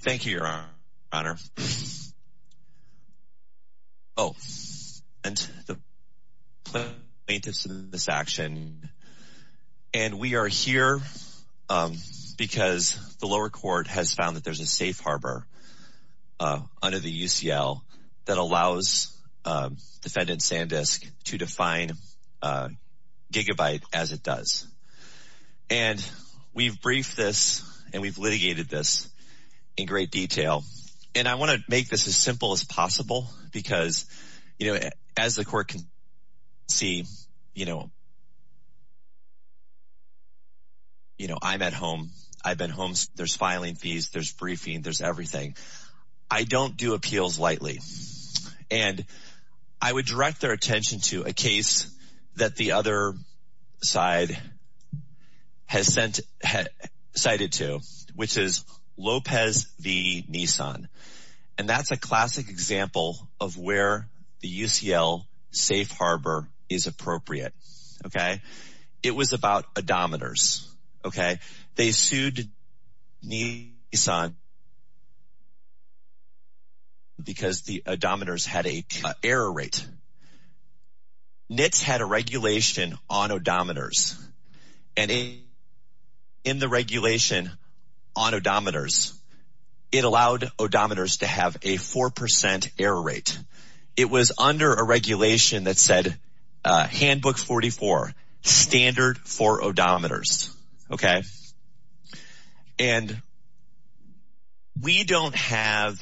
Thank you your honor. Oh and the plaintiffs in this action and we are here because the lower court has found that there's a safe harbor under the UCL that allows defendant SanDisk to define gigabyte as it does and we've briefed this and we've litigated this in great detail and I want to make this as simple as possible because you know as the court can see you know you know I'm at home I've been home there's filing fees there's appeals lightly and I would direct their attention to a case that the other side has sent had cited to which is Lopez v. Nissan and that's a classic example of where the UCL safe harbor is appropriate okay it was about odometers okay they sued Nissan because the odometers had a error rate. NITS had a regulation on odometers and in the regulation on odometers it allowed odometers to have a 4% error rate it was under a regulation that said handbook 44 standard for odometers okay and we don't have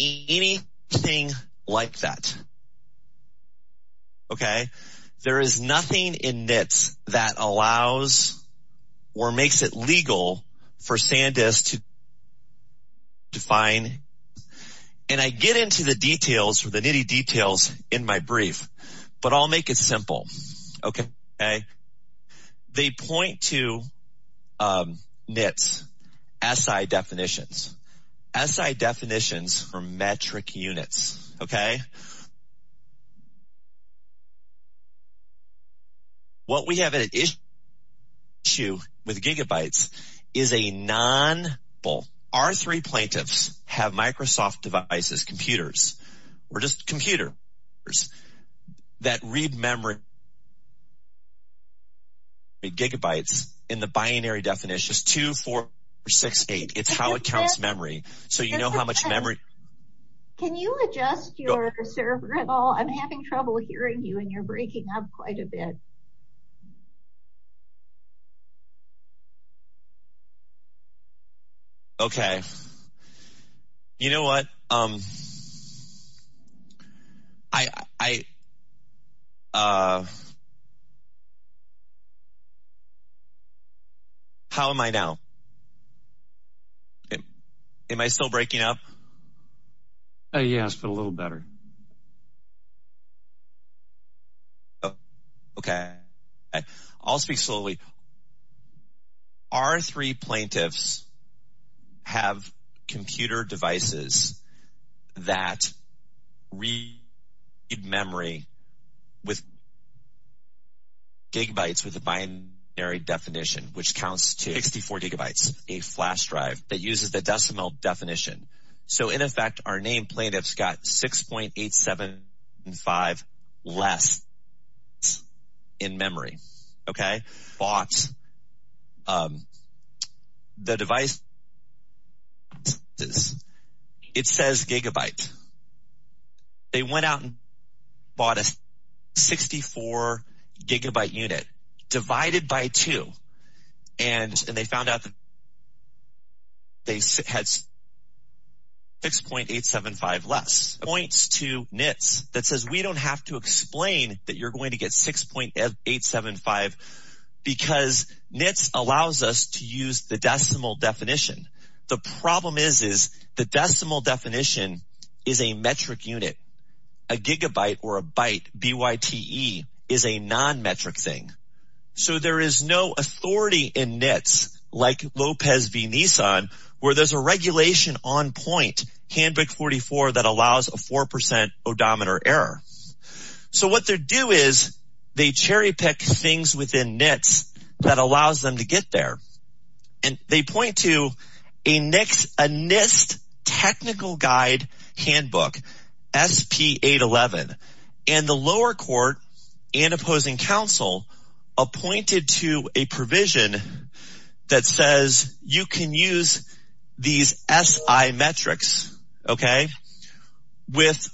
anything like that okay there is nothing in NITS that allows or makes it legal for SanDisk to define and I get into the details for the nitty details in my brief but I'll make it simple okay okay they point to NITS SI definitions SI definitions for metric with gigabytes is a non both our three plaintiffs have Microsoft devices computers or just computer that read memory gigabytes in the binary definition is 2 4 6 8 it's how it counts memory so you know how much memory can you adjust your server at all I'm having trouble hearing you and you're breaking up quite a bit okay you know what um I how am I now am I still breaking up yes but a little better okay I'll speak slowly our three plaintiffs have computer devices that read memory with gigabytes with a binary definition which counts to 64 gigabytes a flash drive that uses the decimal definition so in effect our name plaintiffs got six point eight seven five less in memory okay box the device this it says gigabyte they went out and bought a 64 gigabyte unit divided by two and they found out they had six point eight seven five less points to NITS that says we don't have to explain that you're going to get six point eight seven five because NITS allows us to use the decimal definition the problem is is the decimal definition is a metric unit a gigabyte or a byte BYTE is a non-metric thing so there is no authority in NITS like Lopez v. Nissan where there's a regulation on point handbook 44 that allows a 4% odometer error so what they do is they cherry-pick things within NITS that allows them to get there and they point to a next a NIST technical guide handbook SP 811 and the lower court and opposing counsel appointed to a provision that says you can use these SI metrics okay with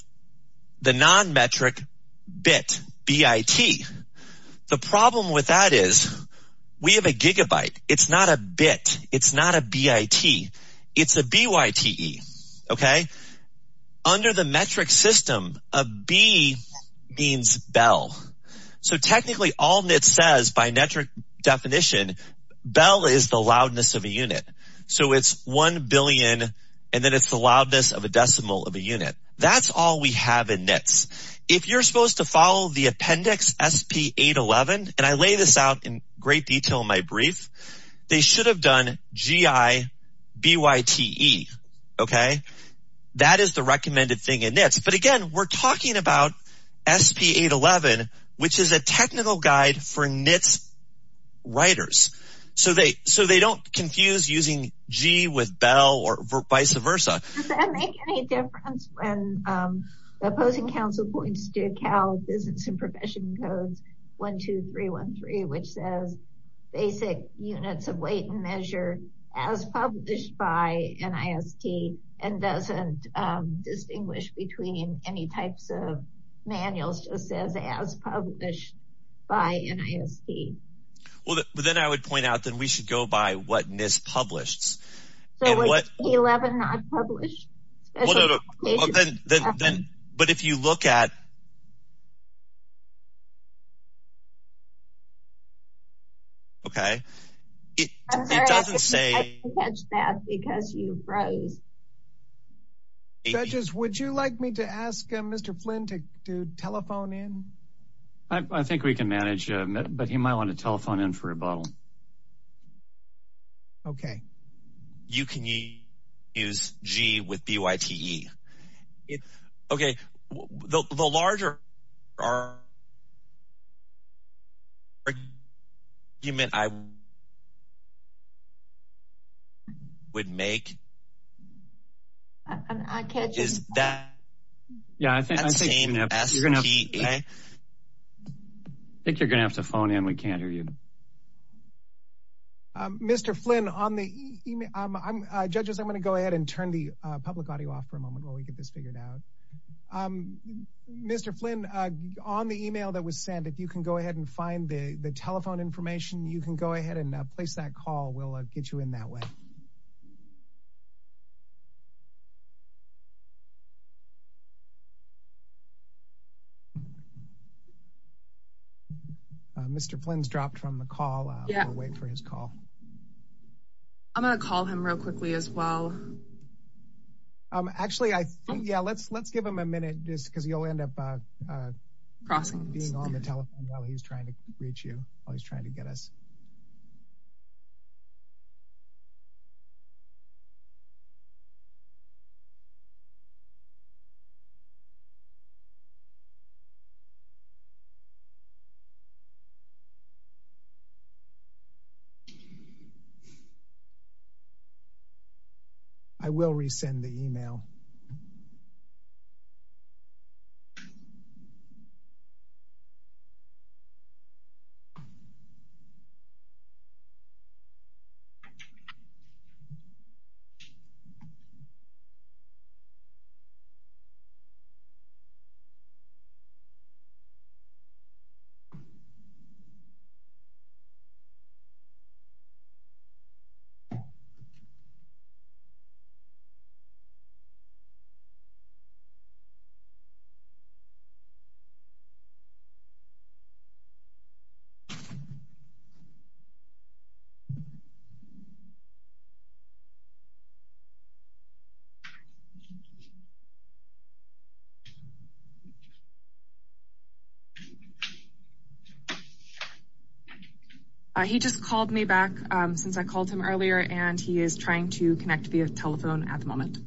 the non-metric bit BIT the problem with that is we have a gigabyte it's not a bit it's not a BIT it's a BYTE okay under the metric system a B means Bell so technically all NITS says by metric definition Bell is the loudness of a unit so it's 1 billion and then it's the loudness of a decimal of a unit that's all we have in NITS if you're out in great detail my brief they should have done GI BYTE okay that is the recommended thing in NITS but again we're talking about SP 811 which is a technical guide for NITS writers so they so they don't confuse using G with Bell or vice versa when the opposing counsel points to account business and profession codes 1 2 3 1 3 which says basic units of weight and measure as published by NIST and doesn't distinguish between any types of manuals just says as published by NIST well then I would point out that we should go by what NIST published but if you look at okay it doesn't say that because you froze judges would you like me to ask mr. Flynn to telephone in I think we can manage but he might want to telephone in for a bottle okay you can use G with BYTE it okay the larger are you meant I would make I can't is that yeah I think you're gonna have to phone in we can't hear you mr. Flynn on the judges I'm gonna go ahead and turn the public audio off for a moment while we get this figured out mr. Flynn on the email that was sent if you can go ahead and find the the telephone information you can go ahead and place that call we'll get you in that way mr. Flynn's dropped from the call yeah wait for his call I'm gonna call him real quickly as well actually I think yeah let's let's give him a minute just because he'll end up crossing the telephone while he's trying to reach you while he's trying to get us I will resend the email you He just called me back since I called him earlier, and he is trying to connect via telephone at the moment.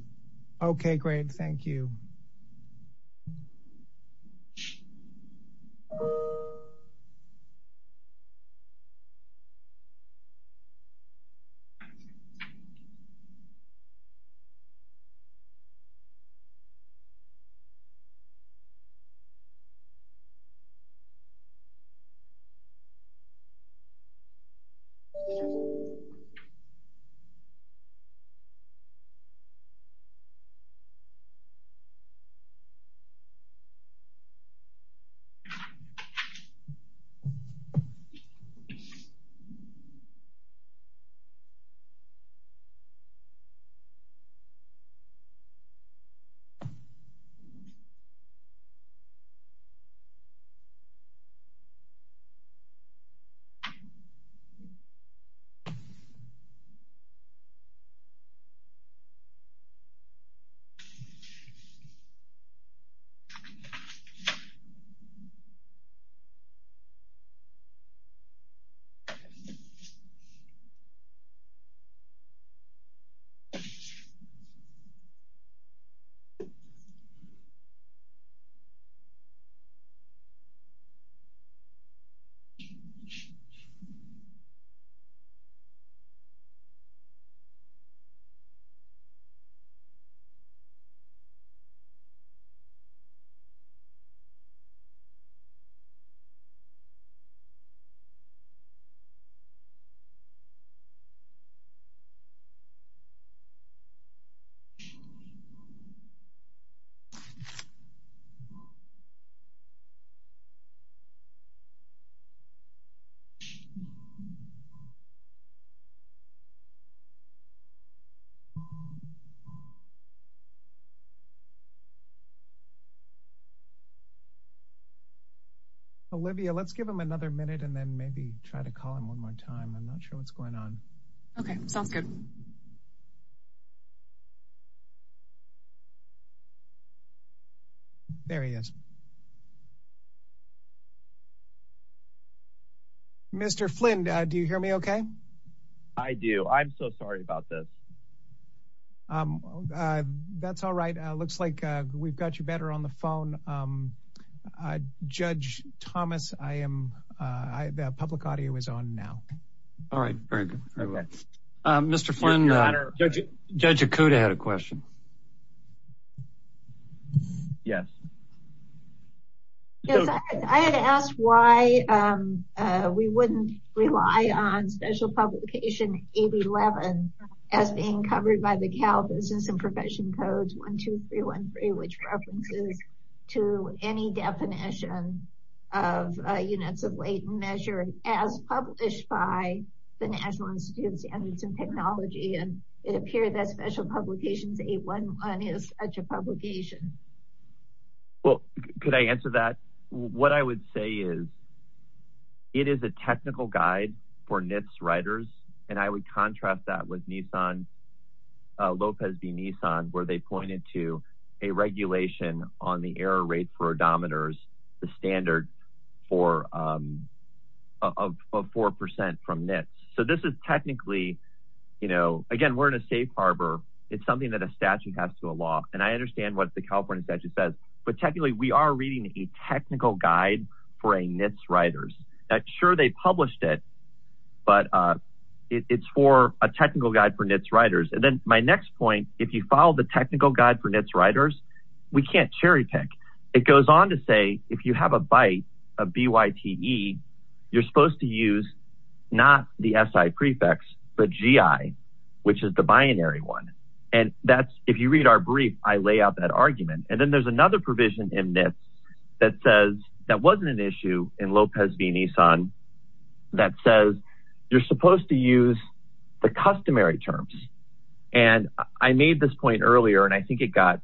Okay, great. Olivia, let's give him another minute and then maybe try to call him one more time. I'm not sure what's going on. Okay, sounds good. There he is. Mr. Flynn, do you hear me okay? I do. I'm so sorry about this. That's all right. Looks like we've got you better on the phone. Judge Thomas, the public audio is on now. All right. Very good. Mr. Flynn, Judge Okuda had a question. Yes. I had asked why we wouldn't rely on Special Publication 811 as being covered by the Cal Business and Profession Codes, 12313, which references to any definition of units of weight measured as published by the National Institute of Standards and Technology, and it appeared that Special Publication 811 is such a publication. Could I answer that? What I would say is it is a technical guide for NHTSA riders, and I would contrast that with Lopez v. Nissan, where they pointed to a regulation on the error rate for odometers, the standard of 4% from NHTSA. So this is technically, you know, again, we're in a safe harbor. It's something that a statute has to allow, and I understand what the California statute says, but technically we are reading a technical guide for NHTSA riders. Sure they published it, but it's for a technical guide for NHTSA riders, and then my next point, if you follow the technical guide for NHTSA riders, we can't cherry pick. It goes on to say, if you have a byte, a B-Y-T-E, you're supposed to use not the S-I prefix, but G-I, which is the binary one, and that's, if you read our brief, I lay out that argument, and then there's another provision in this that says, that wasn't an issue in Lopez v. Nissan, that says you're supposed to use the customary terms, and I made this point earlier, and I think it got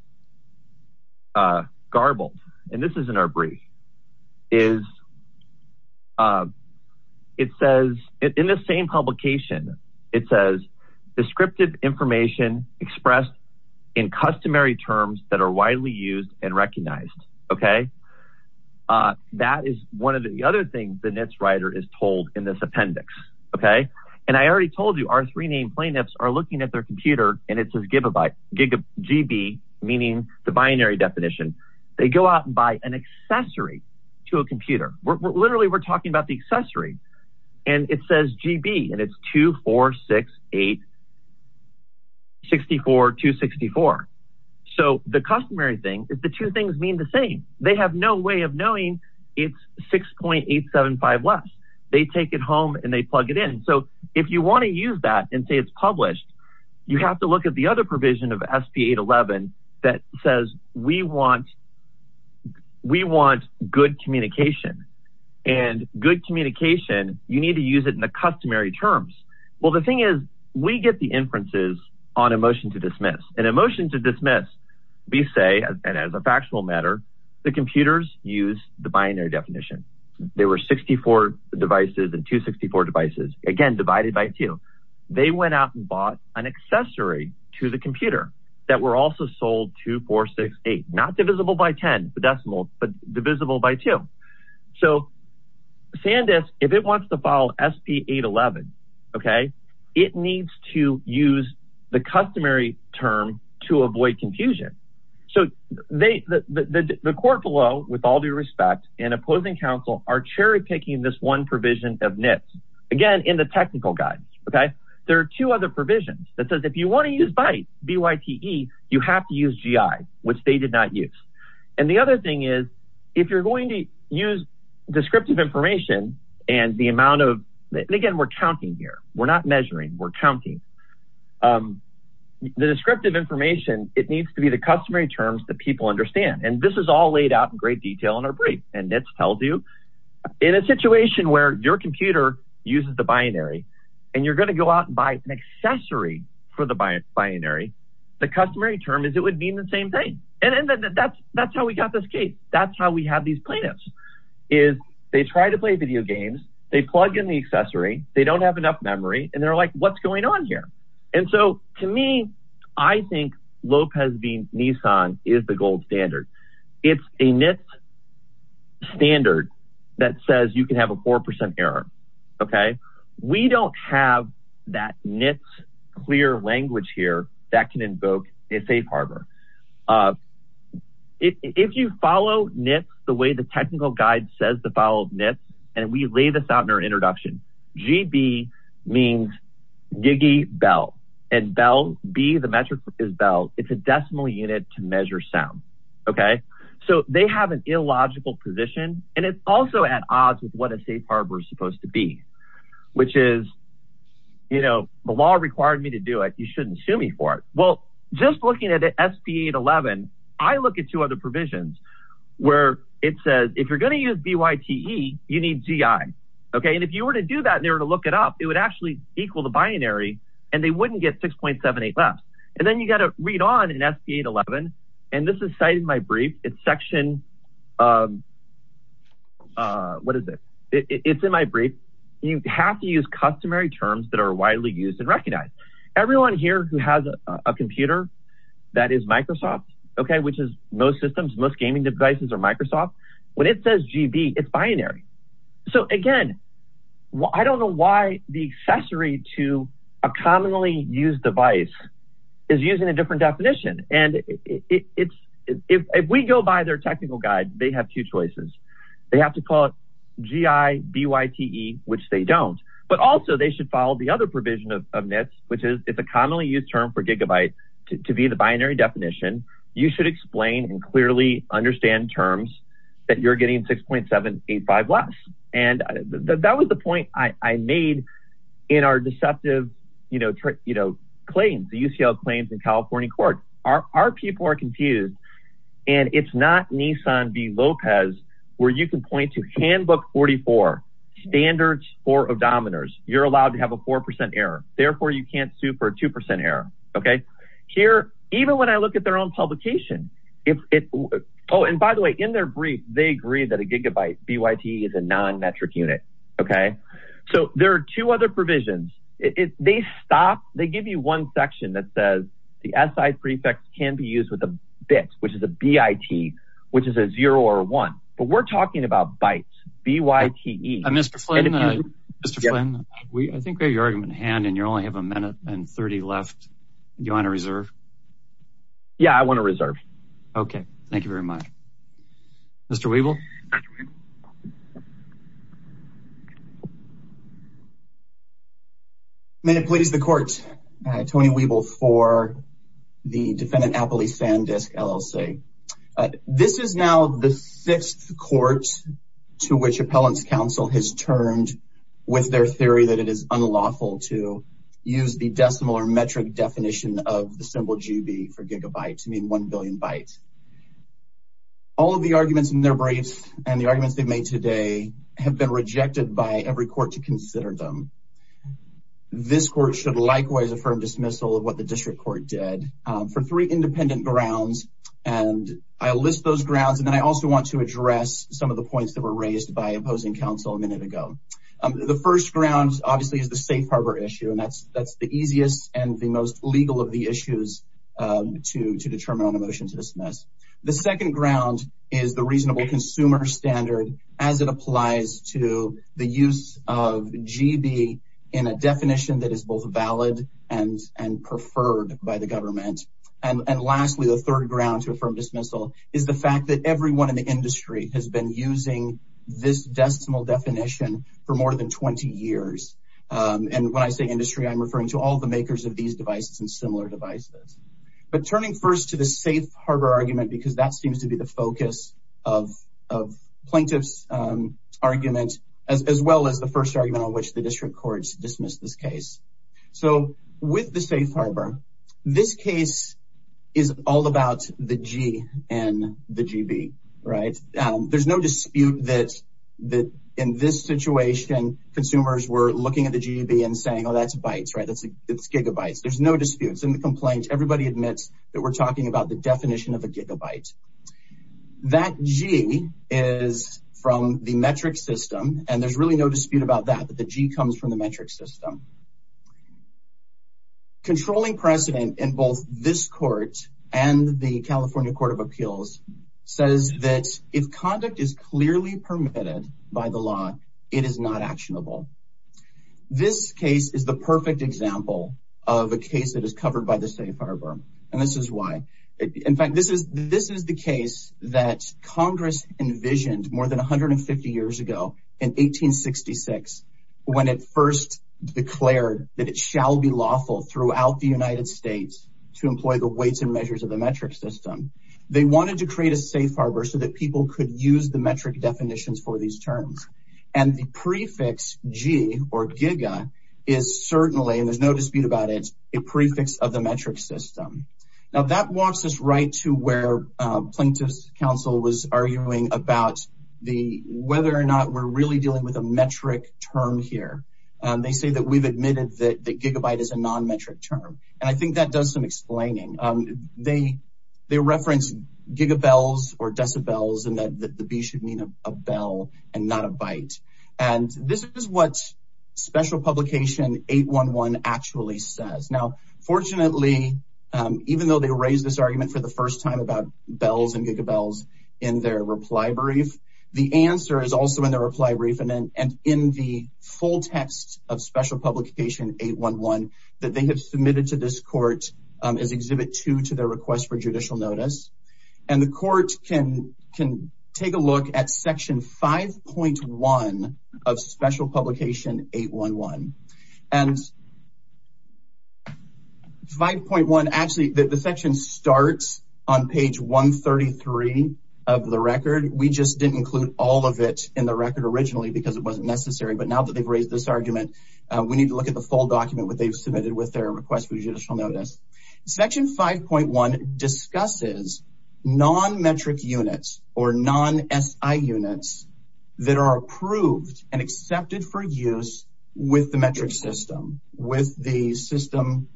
garbled, and this is in our brief, is it says, in the same publication, it says, descriptive information expressed in customary terms that are widely used and recognized, okay? That is one of the other things the NHTSA rider is told in this appendix, okay? And I already told you, our three named plaintiffs are looking at their computer, and it says GB, meaning the binary definition. They go out and buy an accessory to a computer. Literally we're talking about the accessory, and it says GB, and it's 2468-64-264. So the customary thing is the two things mean the same. They have no way of knowing it's 6.875 less. They take it home, and they plug it in, so if you wanna use that and say it's published, you have to look at the other provision of SP-811 that says we want good communication, and good communication, you need to use it in the customary terms. Well, the thing is, we get the inferences on a motion to dismiss, and a motion to dismiss, we say, and as a factual matter, the computers use the binary definition. They were 64 devices and 264 devices, again, divided by two. They went out and bought an accessory to the computer that were also sold 2468, not divisible by 10, the decimal, but divisible by two. So SanDisk, if it wants to follow SP-811, okay, it needs to use the customary term to avoid confusion. So the court below, with all due respect, and opposing counsel are cherry picking this one provision of NITS, again, in the technical guidance, okay? There are two other provisions that says if you wanna use BYTE, B-Y-T-E, you have to use GI, which they did not use. And the other thing is, if you're going to use descriptive information, and the amount of, and again, we're counting here, we're not measuring, we're counting, the descriptive information, it needs to be the customary terms that people understand, and this is all laid out in great detail in our brief. And NITS tells you, in a situation where your computer uses the binary, and you're gonna go out and buy an accessory for the binary, the customary term is it would mean the same thing. And that's how we got this case, that's how we have these plaintiffs, is they try to play video games, they plug in the accessory, they don't have enough memory, and they're like, what's going on here? And so, to me, I think Lopez v. Nissan is the gold standard. It's a NITS standard that says you can have a 4% error, okay? We don't have that NITS clear language here that can invoke a safe harbor. If you follow NITS the way the technical guide says to follow NITS, and we lay this out in our introduction, GB means GIGI Bell, and Bell, B, the metric is Bell, it's a decimal unit to measure sound, okay? So they have an illogical position, and it's also at odds with what a safe harbor is supposed to be, which is, you know, the law required me to do it, you shouldn't sue me for it. Well, just looking at SP811, I look at two other provisions where it says, if you're gonna use BYTE, you need GI, okay? And if you were to do that and you were to look it up, it would actually equal the binary, and they wouldn't get 6.78 left. And then you gotta read on in SP811, and this is cited in my brief, it's section, what is it? It's in my brief, you have to use customary terms that are widely used and recognized. Everyone here who has a computer that is Microsoft, okay, which is most systems, most gaming devices are Microsoft, when it says GB, it's binary. So again, I don't know why the accessory to a commonly used device is using a different definition. And if we go by their technical guide, they have two choices. They have to call it GI BYTE, which they don't. But also they should follow the other provision of NITS, which is, if a commonly used term for gigabyte to be the binary definition, you should explain and clearly understand in terms that you're getting 6.785 less. And that was the point I made in our deceptive claims, the UCL claims in California court. Our people are confused. And it's not Nissan v. Lopez, where you can point to handbook 44, standards for odometers. You're allowed to have a 4% error, therefore you can't sue for a 2% error, okay? Here, even when I look at their own publication, if it, oh, and by the way, in their brief, they agree that a gigabyte BYTE is a non-metric unit, okay? So there are two other provisions. They stop, they give you one section that says the SI prefix can be used with a bit, which is a BIT, which is a zero or a one, but we're talking about bytes, BYTE. Mr. Flynn, I think we have your argument in hand and you only have a minute and 30 left. Do you want to reserve? Yeah, I want to reserve. Okay. Thank you very much. Mr. Weeble? May it please the court, Tony Weeble for the defendant Appley Sandisk, LLC. This is now the fifth court to which appellant's counsel has turned with their theory that it is unlawful to use the decimal or metric definition of the symbol GB for gigabyte to mean 1 billion bytes. All of the arguments in their briefs and the arguments they've made today have been rejected by every court to consider them. This court should likewise affirm dismissal of what the district court did for three independent grounds and I list those grounds and then I also want to address some of the points that were raised by opposing counsel a minute ago. The first ground obviously is the safe harbor issue and that's the easiest and the most legal of the issues to determine on a motion to dismiss. The second ground is the reasonable consumer standard as it applies to the use of GB in a definition that is both valid and preferred by the government. And lastly, the third ground to affirm dismissal is the fact that everyone in the industry has been using this decimal definition for more than 20 years and when I say industry, I'm referring to all the makers of these devices and similar devices. But turning first to the safe harbor argument because that seems to be the focus of plaintiff's argument as well as the first argument on which the district courts dismissed this case. So with the safe harbor, this case is all about the G and the GB, right? There's no dispute that in this situation, consumers were looking at the GB and saying, oh, that's bytes, right? That's gigabytes. There's no disputes in the complaint. Everybody admits that we're talking about the definition of a gigabyte. That G is from the metric system and there's really no dispute about that, that the G comes from the metric system. Controlling precedent in both this court and the California Court of Appeals says that if conduct is clearly permitted by the law, it is not actionable. This case is the perfect example of a case that is covered by the safe harbor and this is why. In fact, this is the case that Congress envisioned more than 150 years ago in 1866 when it first declared that it shall be lawful throughout the United States to employ the weights and measures of the metric system. They wanted to create a safe harbor so that people could use the metric definitions for these terms and the prefix G or giga is certainly, and there's no dispute about it, a prefix of the metric system. Now that walks us right to where plaintiff's counsel was arguing about whether or not we're really dealing with a metric term here. They say that we've admitted that gigabyte is a non-metric term and I think that does some explaining. They referenced gigabels or decibels and that the B should mean a bell and not a byte. And this is what special publication 811 actually says. Now fortunately, even though they raised this argument for the first time about bells and and in the full text of special publication 811 that they have submitted to this court as exhibit two to their request for judicial notice. And the court can take a look at section 5.1 of special publication 811. And 5.1 actually, the section starts on page 133 of the record. We just didn't include all of it in the record originally because it wasn't necessary, but now that they've raised this argument, we need to look at the full document that they've submitted with their request for judicial notice. Section 5.1 discusses non-metric units or non-SI units that are approved and accepted for use with the metric system, with the system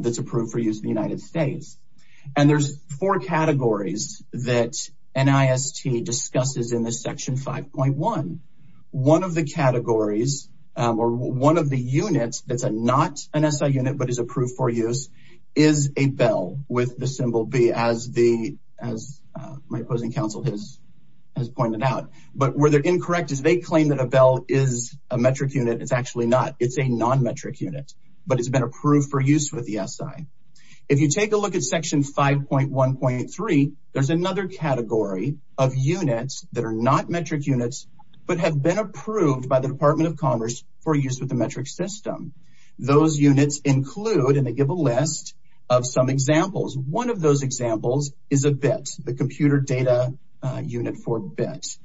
that's approved for use in the United States. And there's four categories that NIST discusses in this section 5.1. One of the categories or one of the units that's not an SI unit but is approved for use is a bell with the symbol B as my opposing counsel has pointed out. But where they're incorrect is they claim that a bell is a metric unit. It's actually not. It's a non-metric unit, but it's been approved for use with the SI. If you take a look at section 5.1.3, there's another category of units that are not metric units but have been approved by the Department of Commerce for use with the metric system. Those units include, and they give a list of some examples. One of those examples is a BIT, the computer data unit for BIT.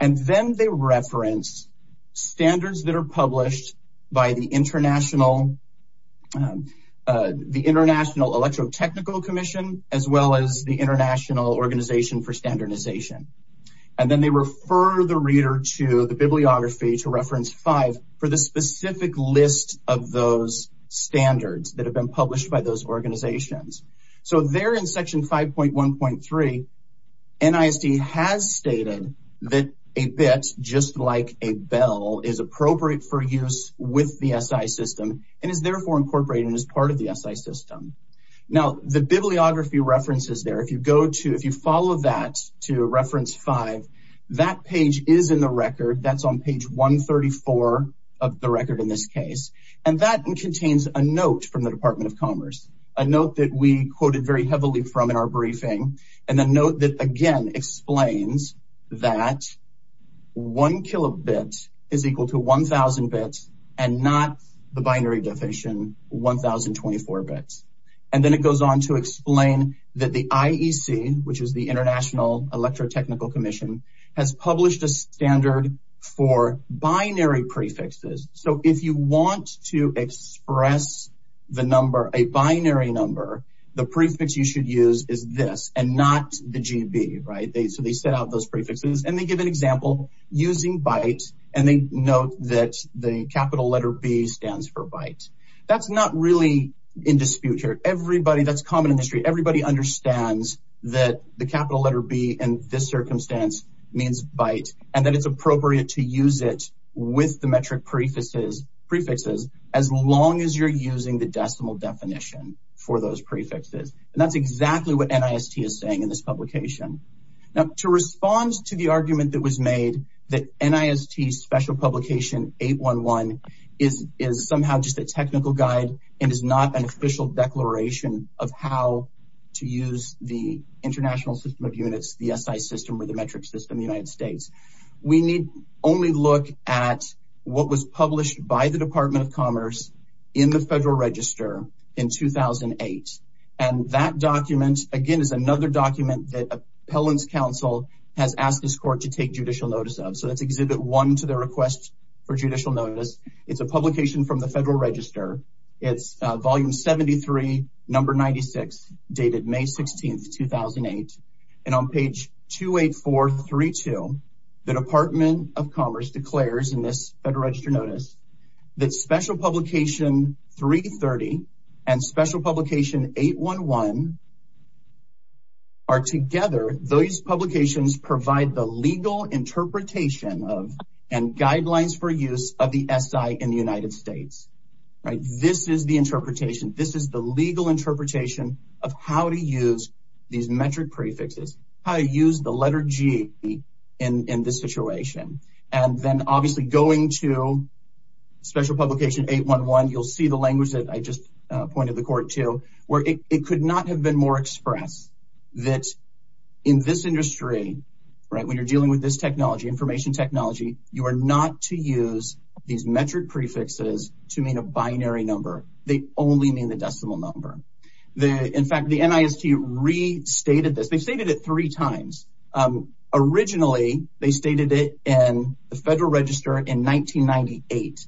And then they reference standards that are published by the International Electrotechnical Commission as well as the International Organization for Standardization. And then they refer the reader to the bibliography to reference five for the specific list of those standards that have been published by those organizations. So there in section 5.1.3, NISD has stated that a BIT, just like a bell, is appropriate for use with the SI system and is therefore incorporated as part of the SI system. Now the bibliography references there, if you follow that to reference five, that page is in the record. That's on page 134 of the record in this case. And that contains a note from the Department of Commerce, a note that we quoted very heavily from in our briefing, and a note that again explains that one kilobit is equal to 1,000 bits and not the binary definition, 1,024 bits. And then it goes on to explain that the IEC, which is the International Electrotechnical Commission, has published a standard for binary prefixes. So if you want to express the number, a binary number, the prefix you should use is this and not the GB, right? So they set out those prefixes and they give an example using BIT and they note that the capital letter B stands for BIT. That's not really in dispute here. Everybody, that's common in history, everybody understands that the capital letter B in this is a prefix, prefixes, as long as you're using the decimal definition for those prefixes. And that's exactly what NIST is saying in this publication. Now, to respond to the argument that was made that NIST Special Publication 811 is somehow just a technical guide and is not an official declaration of how to use the International System of Units, the SI system or the metric system in the United States, we need only look at what was published by the Department of Commerce in the Federal Register in 2008. And that document, again, is another document that Appellant's Counsel has asked this court to take judicial notice of. So that's Exhibit 1 to their request for judicial notice. It's a publication from the Federal Register. It's volume 73, number 96, dated May 16, 2008. And on page 28432, the Department of Commerce declares in this Federal Register notice that Special Publication 330 and Special Publication 811 are together, those publications provide the legal interpretation of and guidelines for use of the SI in the United States. This is the interpretation. This is the legal interpretation of how to use these metric prefixes, how to use the letter G in this situation. And then, obviously, going to Special Publication 811, you'll see the language that I just pointed the court to, where it could not have been more expressed that in this industry, right, when you're dealing with this technology, information technology, you are not to use these metric prefixes to mean a binary number. They only mean the decimal number. In fact, the NIST restated this. They stated it three times. Originally, they stated it in the Federal Register in 1998.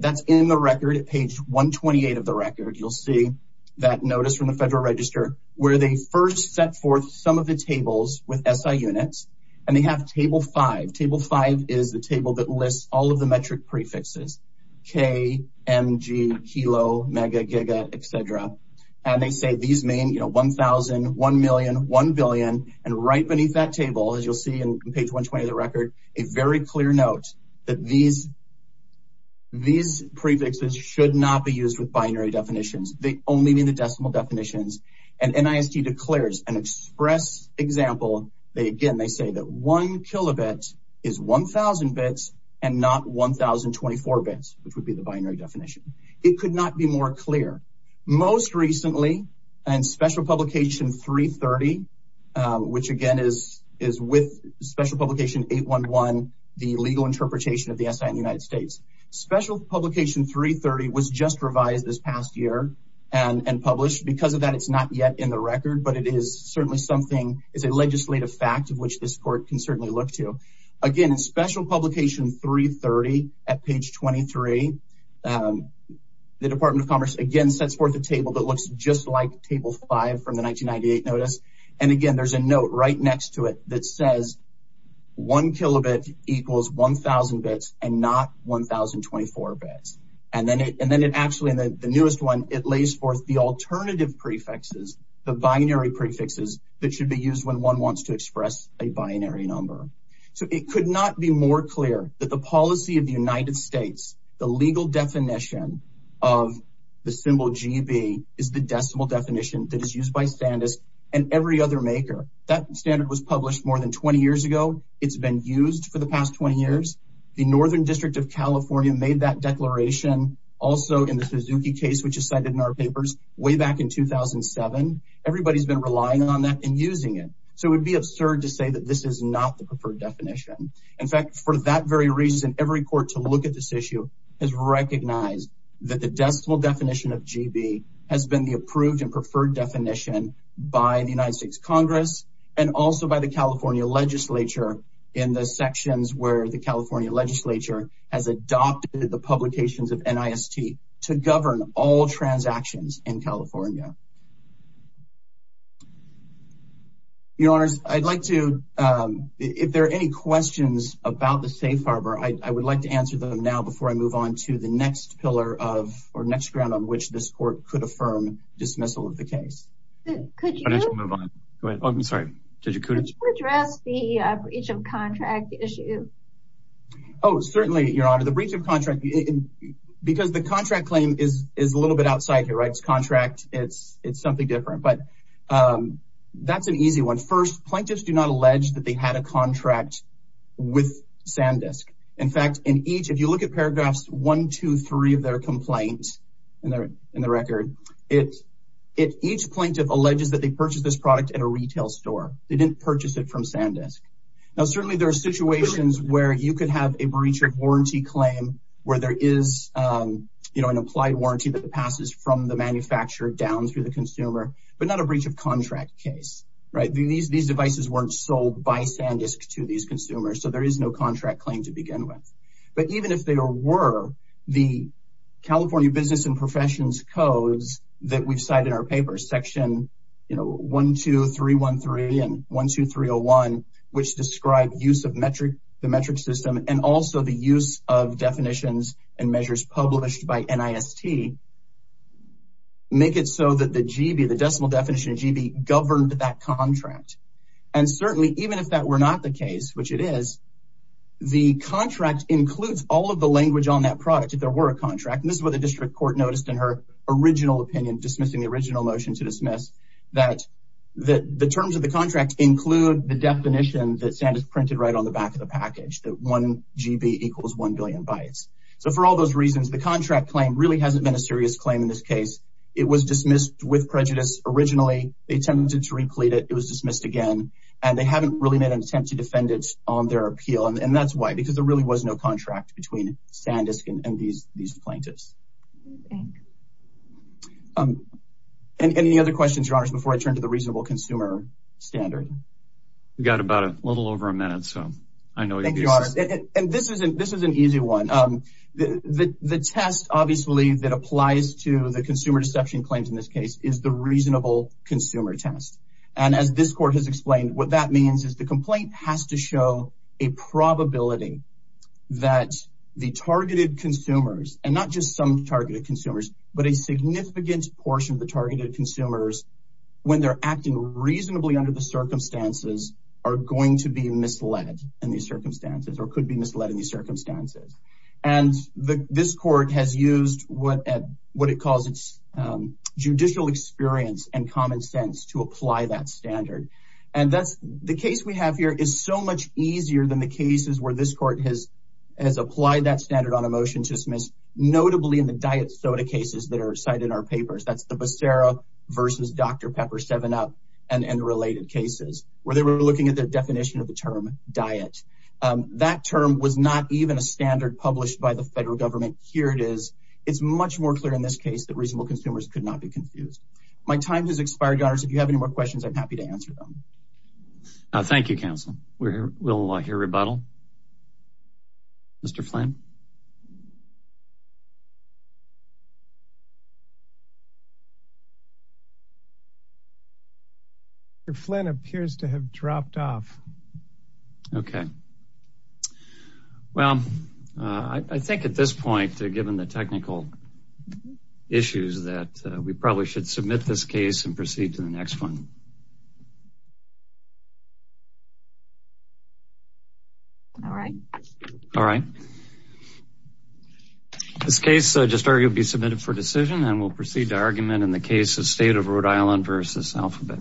That's in the record at page 128 of the record. You'll see that notice from the Federal Register where they first set forth some of the tables with SI units, and they have Table 5. Table 5 is the table that lists all of the metric prefixes, K, M, G, kilo, mega, giga, et cetera, and they say these mean 1,000, 1,000,000, 1,000,000,000, and right beneath that table, as you'll see in page 120 of the record, a very clear note that these prefixes should not be used with binary definitions. They only mean the decimal definitions, and NIST declares an express example. Again, they say that 1 kilobit is 1,000 bits and not 1,024 bits, which would be the binary definition. It could not be more clear. Most recently, and Special Publication 330, which, again, is with Special Publication 811, the legal interpretation of the SI in the United States, Special Publication 330 was just revised this past year and published. Because of that, it's not yet in the record, but it is certainly something, it's a legislative fact of which this court can certainly look to. Again, in Special Publication 330 at page 23, the Department of Commerce again sets forth a table that looks just like Table 5 from the 1998 notice, and again, there's a note right next to it that says 1 kilobit equals 1,000 bits and not 1,024 bits, and then it actually, in the newest one, it lays forth the alternative prefixes, the binary prefixes that should be used when one wants to express a binary number. So it could not be more clear that the policy of the United States, the legal definition of the symbol GB is the decimal definition that is used by Sandisk and every other maker. That standard was published more than 20 years ago. It's been used for the past 20 years. The Northern District of California made that declaration also in the Suzuki case, which is cited in our papers way back in 2007. Everybody's been relying on that and using it. So it would be absurd to say that this is not the preferred definition. In fact, for that very reason, every court to look at this issue has recognized that the decimal definition of GB has been the approved and preferred definition by the United States. The California legislature in the sections where the California legislature has adopted the publications of NIST to govern all transactions in California. Your Honor, I'd like to if there are any questions about the safe harbor, I would like to answer them now before I move on to the next pillar of our next round on which this court could affirm dismissal of the case. Could you move on? I'm sorry. Did you address the breach of contract issue? Oh, certainly, Your Honor, the breach of contract, because the contract claim is a little bit outside here. It's contract. It's something different. But that's an easy one. First, plaintiffs do not allege that they had a contract with Sandisk. In fact, in each, if you look at paragraphs one, two, three of their complaint in the record, it each plaintiff alleges that they purchased this product at a retail store. They didn't purchase it from Sandisk. Now, certainly there are situations where you could have a breach of warranty claim where there is an applied warranty that passes from the manufacturer down through the consumer, but not a breach of contract case. Right. These devices weren't sold by Sandisk to these consumers. So there is no contract claim to begin with. But even if there were the California business and professions codes that we've cited in our paper section, you know, one, two, three, one, three and one, two, three or one, which describe use of metric, the metric system and also the use of definitions and measures published by NIST. Make it so that the GB, the decimal definition of GB governed that contract, and includes all of the language on that product. If there were a contract, and this is what the district court noticed in her original opinion, dismissing the original motion to dismiss that the terms of the contract include the definition that Sandisk printed right on the back of the package, that one GB equals one billion bytes. So for all those reasons, the contract claim really hasn't been a serious claim in this case. It was dismissed with prejudice. Originally, they attempted to replete it. It was dismissed again, and they haven't really made an attempt to defend it on their contract between Sandisk and these plaintiffs. And any other questions, your honors, before I turn to the reasonable consumer standard? We've got about a little over a minute, so I know. And this isn't this is an easy one. The test, obviously, that applies to the consumer deception claims in this case is the reasonable consumer test. And as this court has explained, what that means is the complaint has to show a probability that the targeted consumers and not just some targeted consumers, but a significant portion of the targeted consumers, when they're acting reasonably under the circumstances, are going to be misled in these circumstances or could be misled in these circumstances. And this court has used what it calls its judicial experience and common sense to apply that standard. And that's the case we have here is so much easier than the cases where this court has has applied that standard on a motion to dismiss, notably in the diet soda cases that are cited in our papers. That's the Becerra versus Dr. Pepper seven up and related cases where they were looking at the definition of the term diet. That term was not even a standard published by the federal government. Here it is. It's much more clear in this case that reasonable consumers could not be confused. My time has expired. If you have any more questions, I'm happy to answer them. Thank you, counsel. We will hear rebuttal. Mr. Flynn. Flynn appears to have dropped off. OK, well, I think at this point, given the technical issues that we probably should submit this case and proceed to the next one. All right. All right. This case just started to be submitted for decision and will proceed to argument in the case of state of Rhode Island versus alphabet.